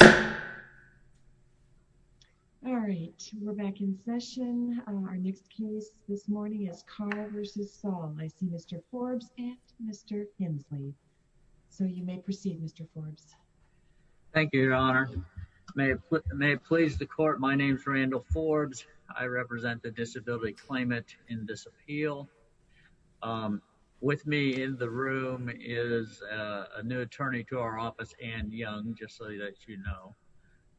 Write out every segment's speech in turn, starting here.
I see Mr. Forbes and Mr. Hensley so you may proceed Mr. Forbes thank you your honor may it may please the court my name is Randall Forbes I represent the disability claimant in this appeal with me in the room is a new attorney to our I'm here to speak on behalf of the district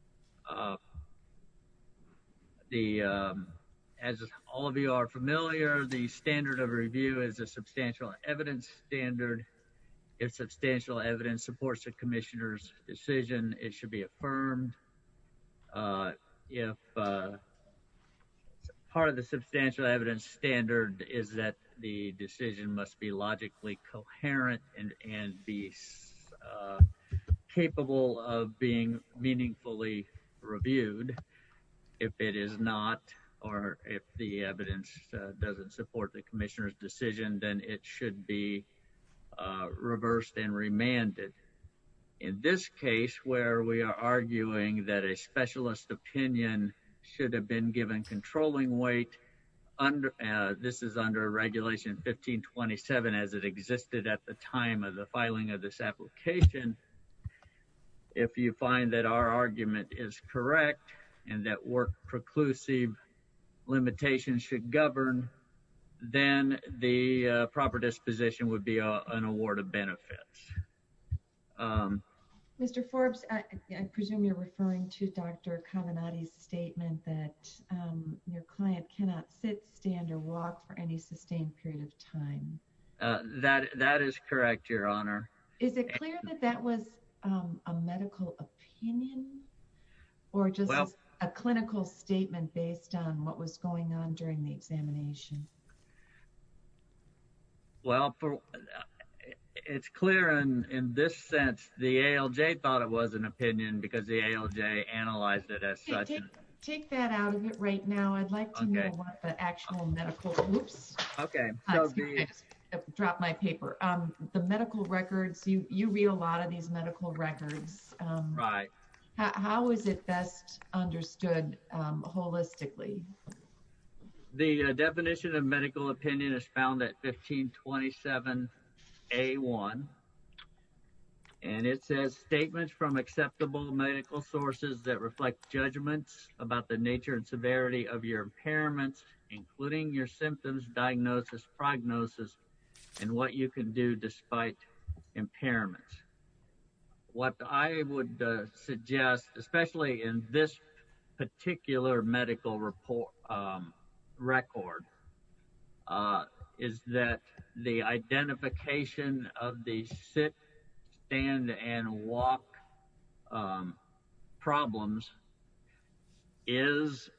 attorney's office as you know the as all of you are familiar the standard of review is a substantial evidence standard it's substantial evidence supports the commissioner's decision and it should be reversed and remanded in this case where we are arguing that the decision must be logically coherent and be capable of being meaningfully reviewed if it is not or if the evidence doesn't support the decision it should be reversed and remanded in this case where we are arguing that a specialist opinion should have been given controlling weight under this is under regulation 1527 as it existed at the time of the filing of this application if you find that our argument is correct and that work preclusive limitations should govern then the proper disposition would be an award of benefits mr. Forbes I presume you're referring to dr. Kamenati's statement that your client cannot sit stand or walk for any sustained period of time that that is correct your honor is it clear that that was a medical opinion or just a clinical statement based on what was going on during the examination well it's clear and in this sense the ALJ thought it was an opinion because the ALJ analyzed it as such take that out of it right now I'd like to know what the actual medical groups okay drop my paper the medical records you read a lot of these medical records right how is it best understood holistically the definition of medical opinion is found at 1527 a1 and it says statements from acceptable medical sources that reflect judgments about the nature and severity of your impairments including your symptoms diagnosis prognosis and what you can do despite impairments what I would suggest especially in this particular medical report record is that the identification of the sit stand and walk problems is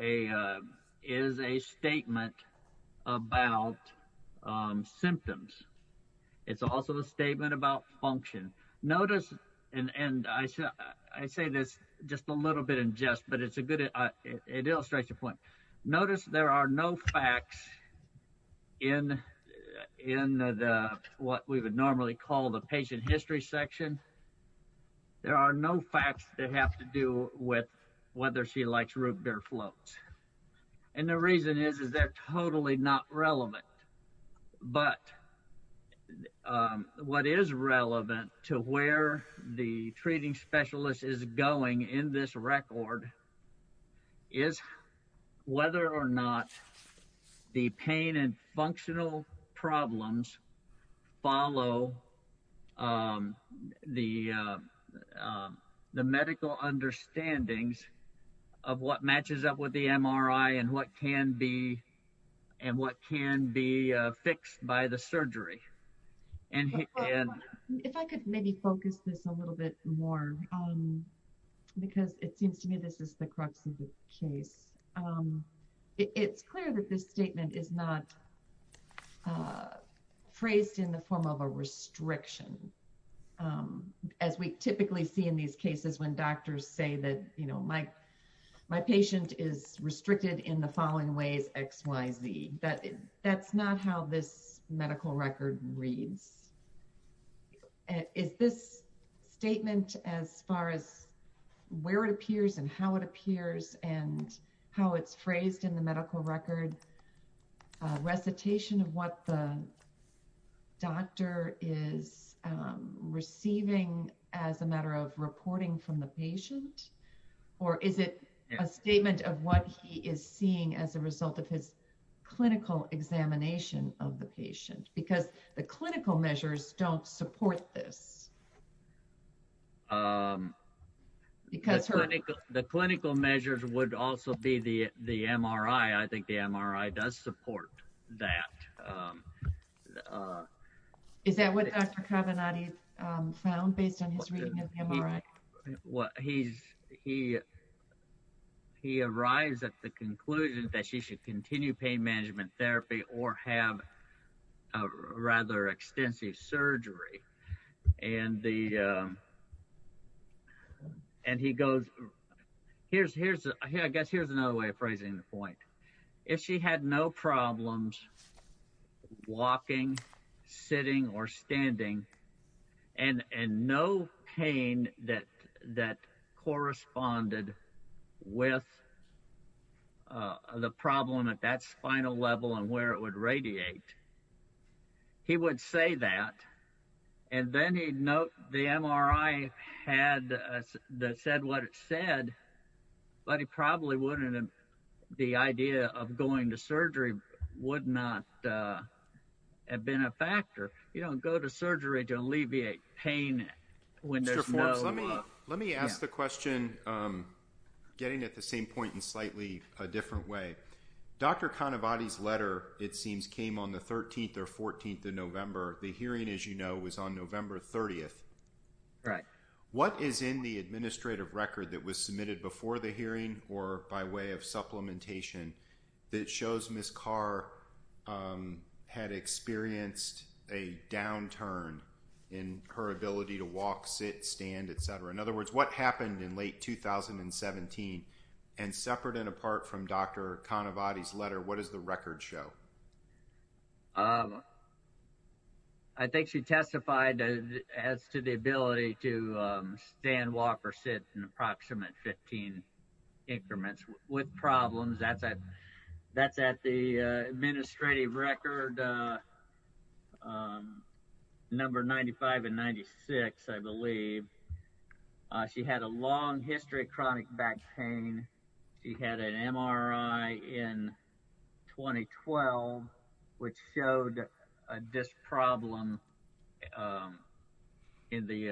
a is a statement about symptoms it's also a statement about function notice and and I said I say this just a little bit and just but it's a good it illustrates your point notice there are no facts in in the what we would normally call the patient history section there are no facts that have to do with whether she likes root beer floats and the reason is is they're totally not relevant but what is relevant to where the treating specialist is going in this record is whether or not the pain and functional problems follow the the medical understandings of what matches up with the MRI and what can be and what can be fixed by the surgery and if I could maybe focus this a little bit more because it seems to me this is the crux of the case it's clear that this statement is not phrased in the form of a restriction as we typically see in these cases when doctors say that you know my my patient is restricted in the following ways XYZ that that's not how this statement as far as where it appears and how it appears and how it's phrased in the medical record recitation of what the doctor is receiving as a matter of reporting from the patient or is it a statement of what he is seeing as a result of his clinical examination of the patient because the clinical measures don't support this because the clinical measures would also be the the MRI I think the MRI does support that is that what Dr. Cavanaugh found based on his MRI what he's he he arrives at the conclusion that she should continue pain management therapy or have a rather extensive surgery and the and he goes here's here's I guess here's another way of phrasing the point if she had no problems walking sitting or standing and and no pain that that corresponded with the problem at that spinal level and where it would radiate he would say that and then he'd note the MRI had that said what it said but he probably wouldn't the idea of going to surgery would not have been a factor you don't go to a different way Dr. kind of body's letter it seems came on the 13th or 14th of November the hearing as you know was on November 30th right what is in the administrative record that was submitted before the hearing or by way of supplementation that shows Miss Carr had experienced a downturn in her ability to stand walk or sit in approximate 15 increments with problems at that that's at the administrative record number 95 and 96 I believe she had a long history She had a long history of chronic back pain. She had an MRI in 2012 which showed this problem in the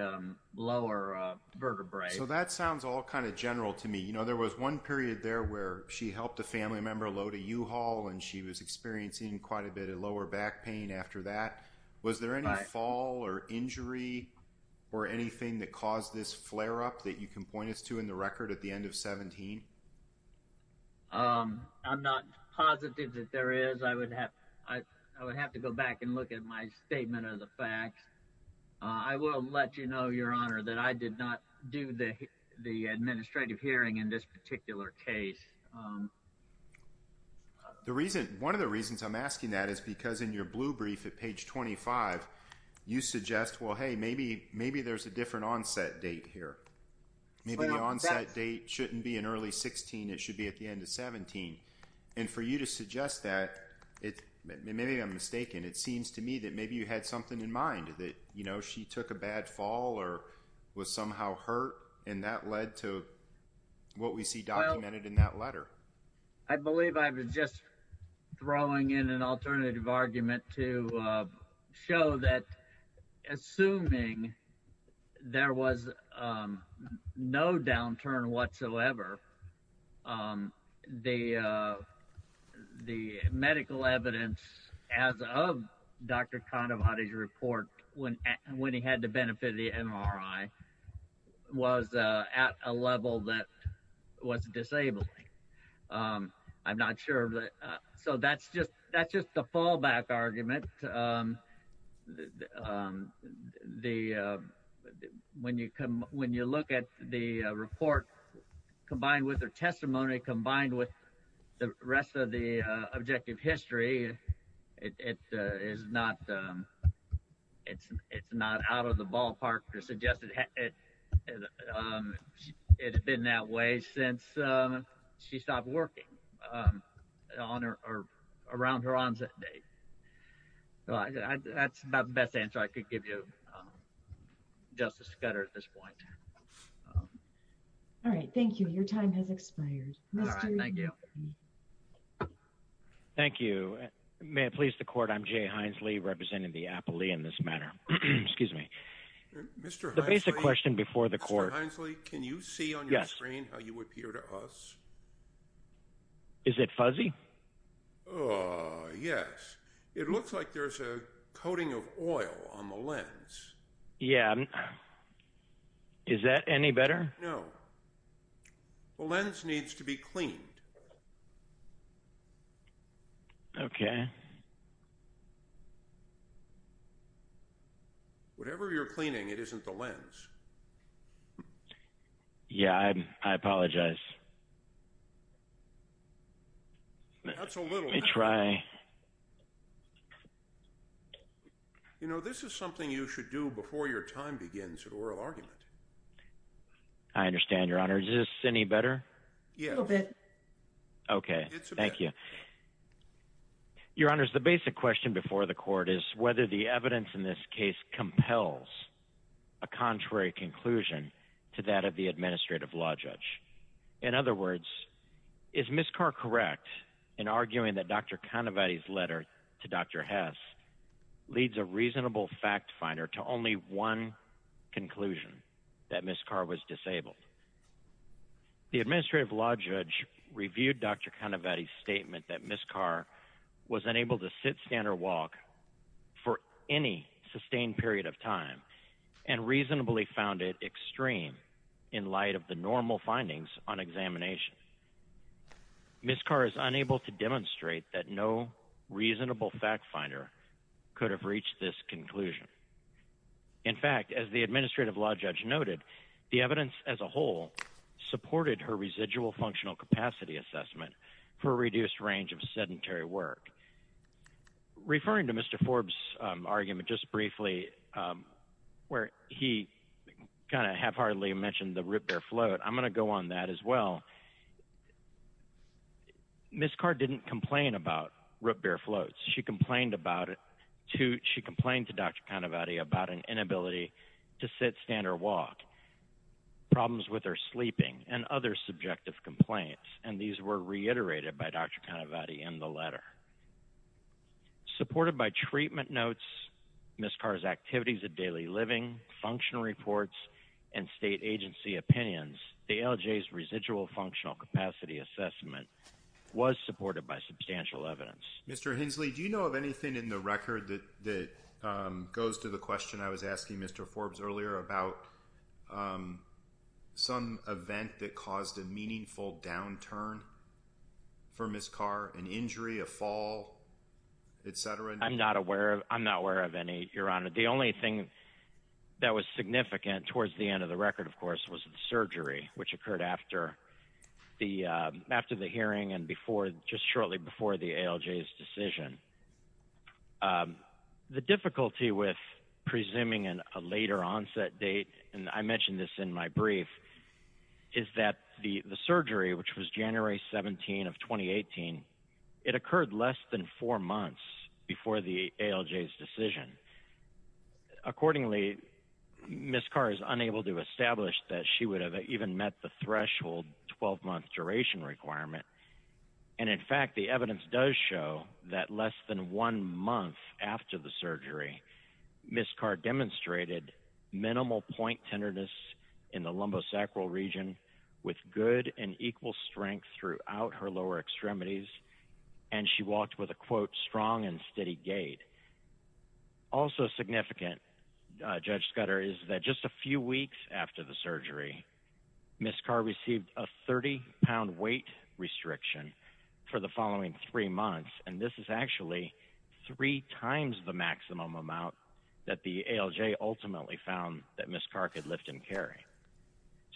lower vertebrae. So that sounds all kind of general to me. You know there was one period there where she helped a family member load a U-Haul and she was experiencing quite a bit of lower back pain after that. Was there any fall or injury or anything that caused this flare up that you can point us to in the record at the end of 17 I'm not positive that there is I would have I would have to go back and look at my statement of the fact I will let you know your honor that I did not do that the administrative hearing in this particular case the reason one of the reasons I'm asking that is because in your blue brief at page 25 you suggest well hey maybe maybe there's a onset date shouldn't be an early 16 it should be at the end of 17 and for you to suggest that it maybe I'm mistaken it seems to me that maybe you had something in mind that you know she took a bad fall or was somehow hurt and that led to what we see documented in that letter I believe I was just throwing in an alternative argument to show that assuming there was no downturn whatsoever the the medical evidence as of Dr. kind of audit report when when he had the benefit of the MRI was at a level that was disabled I'm not sure so that's just that's just a fallback argument the when you come when you look at the report combined with their testimony combined with the rest of the objective history it is not it's it's not out of the ballpark to suggest that it had been that way since she stopped working on her or around her onset date that's about the best answer I could give you just a scatter at this point all right thank you your time has expired thank you thank you may it please the court I'm Jay Hines Lee representing the basic question before the court can you see on your screen how you would appear to us is it fuzzy yes it looks like there's a coating of oil on the lens yeah is that any better no the lens needs to be cleaned okay whatever you're cleaning it isn't the lens yeah I apologize that's a little it's right you know this is something you should do before your time begins an oral argument I understand your honor is this any better yeah okay thank you your honor is the basic question before the court is whether the evidence in this case compels a contrary conclusion to that of the administrative law judge in other words is Miss Carr correct in arguing that dr. kind about his letter to dr. Hess leads a reasonable fact finder to conclude that Miss Carr was disabled the administrative law judge reviewed dr. kind of at a statement that Miss Carr was unable to sit stand or walk for any sustained period of time and reasonably found it extreme in light of the normal findings on examination Miss Carr is unable to demonstrate that no reasonable fact finder could have reached this conclusion in fact as the administrative law judge noted the evidence as a whole supported her residual functional capacity assessment for a reduced range of sedentary work referring to mr. Forbes argument just briefly where he kind of have hardly mentioned the root bear float I'm gonna go on that as well Miss Carr didn't complain about root bear floats she complained about it to she complained to dr. kind of adi about an inability to sit stand or walk problems with her sleeping and other subjective complaints and these were reiterated by dr. kind of adi in the letter supported by treatment notes Miss Carr's activities of daily living function reports and state agency opinions the LJ's residual functional capacity assessment was supported by substantial evidence mr. Hensley do you know of anything in the record that goes to the question I was asking mr. Forbes earlier about some event that caused a meaningful downturn for Miss Carr an injury a fall etc I'm not aware of I'm not aware of any your honor the only thing that was significant towards the end of the record of course was the surgery which occurred after the after the hearing and before just shortly before the LJ's decision the difficulty with presuming in a later onset date and I mentioned this in my brief is that the the surgery which was January 17 of 2018 it occurred less than four months before the LJ's decision accordingly Miss Carr is unable to establish that she would have even met the threshold 12 month duration requirement and in fact the evidence does show that less than one month after the surgery Miss Carr demonstrated minimal point tenderness in the lumbosacral region with good and equal strength throughout her lower extremities and she walked with a quote strong and steady gait also significant Judge Scudder is that just a few weeks after the surgery Miss Carr received a 30 pound weight restriction for the following three months and this is actually three times the maximum amount that the LJ ultimately found that Miss Carr could lift and carry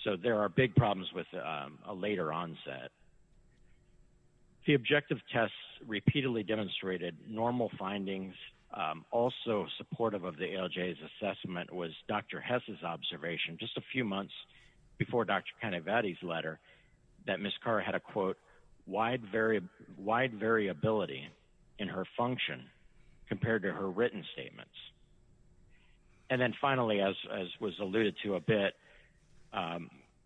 so there are big problems with a later onset the objective tests repeatedly demonstrated normal findings also supportive of the LJ's assessment was Dr. Hess's observation just a few months before Dr. Canavati's letter that Miss Carr had a quote wide very wide variability in her function compared to her written statements and then finally as was alluded to a bit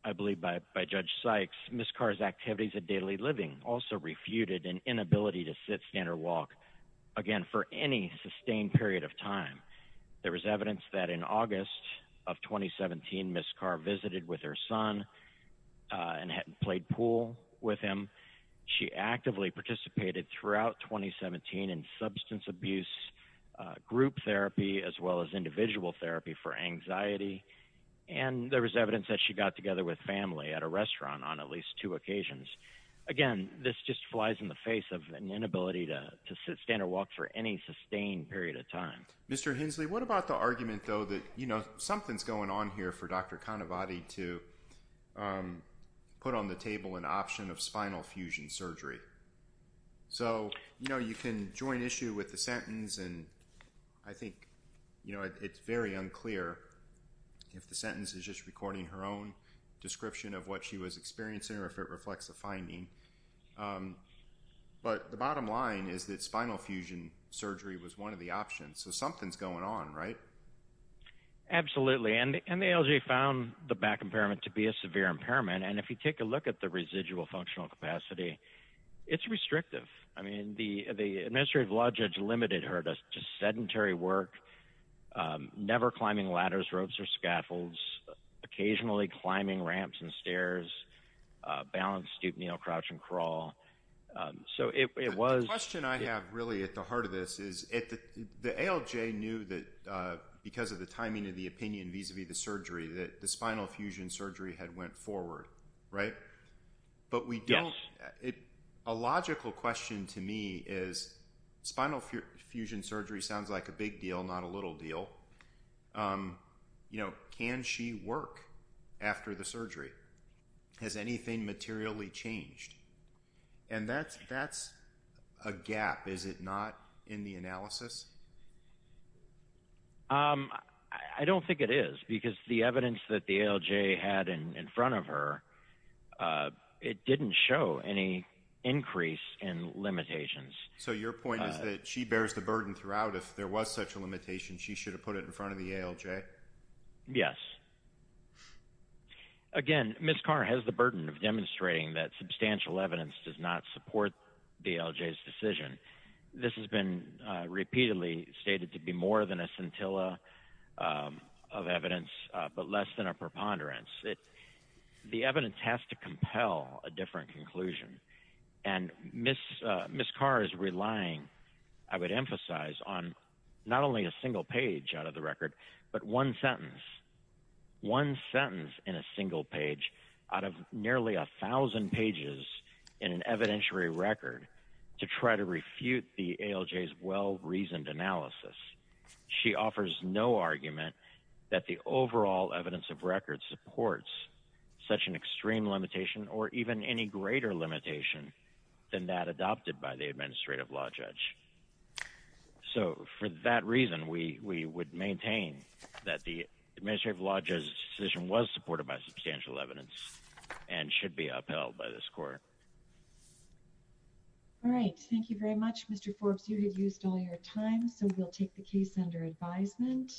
I believe by Judge Sykes Miss Carr's activities of daily living also refuted an inability to sit stand or walk again for any sustained period of time there was evidence that in August of 2017 Miss Carr visited with her son and had played pool with him she actively participated throughout 2017 in substance abuse group therapy as well as individual therapy for anxiety and there was evidence that she got together with family at a restaurant on at least two occasions again this just flies in the face of an inability to sit stand or walk for any sustained period of time Mr. Hensley what about the argument though that you know something's going on here for Dr. Canavati to put on the table an option of spinal fusion surgery so you know you can join issue with the sentence and I think you know it's very unclear if the sentence is just recording her own description of what she was experiencing or if it reflects the finding but the bottom line is that spinal fusion surgery was one of the options so something's going on right absolutely and the ALJ found the back impairment to be a severe impairment and if you take a look at the residual functional capacity it's restrictive I mean the the administrative law judge limited her to sedentary work never climbing ladders ropes or scaffolds occasionally climbing ramps and stairs balance stoop kneel crouch and crawl so it was question I have really at the because of the timing of the opinion vis-a-vis the surgery that the spinal fusion surgery had went forward right but we don't it a logical question to me is spinal fusion surgery sounds like a big deal not a little deal you know can she work after the surgery has anything materially changed and that's that's a I don't think it is because the evidence that the ALJ had in front of her it didn't show any increase in limitations so your point is that she bears the burden throughout if there was such a limitation she should have put it in front of the ALJ yes again miss car has the burden of demonstrating that substantial evidence does not support the LJ's decision this has been repeatedly stated to be more than a scintilla of evidence but less than a preponderance it the evidence has to compel a different conclusion and miss miss car is relying I would emphasize on not only a single page out of the record but one sentence one sentence in a single page out of nearly a thousand pages in an evidentiary record to try to refute the ALJ's well-reasoned analysis she offers no argument that the overall evidence of record supports such an extreme limitation or even any greater limitation than that adopted by the administrative law judge so for that reason we we would maintain that the court all right thank you very much mr. Forbes you have used all your time so we'll take the case under advisement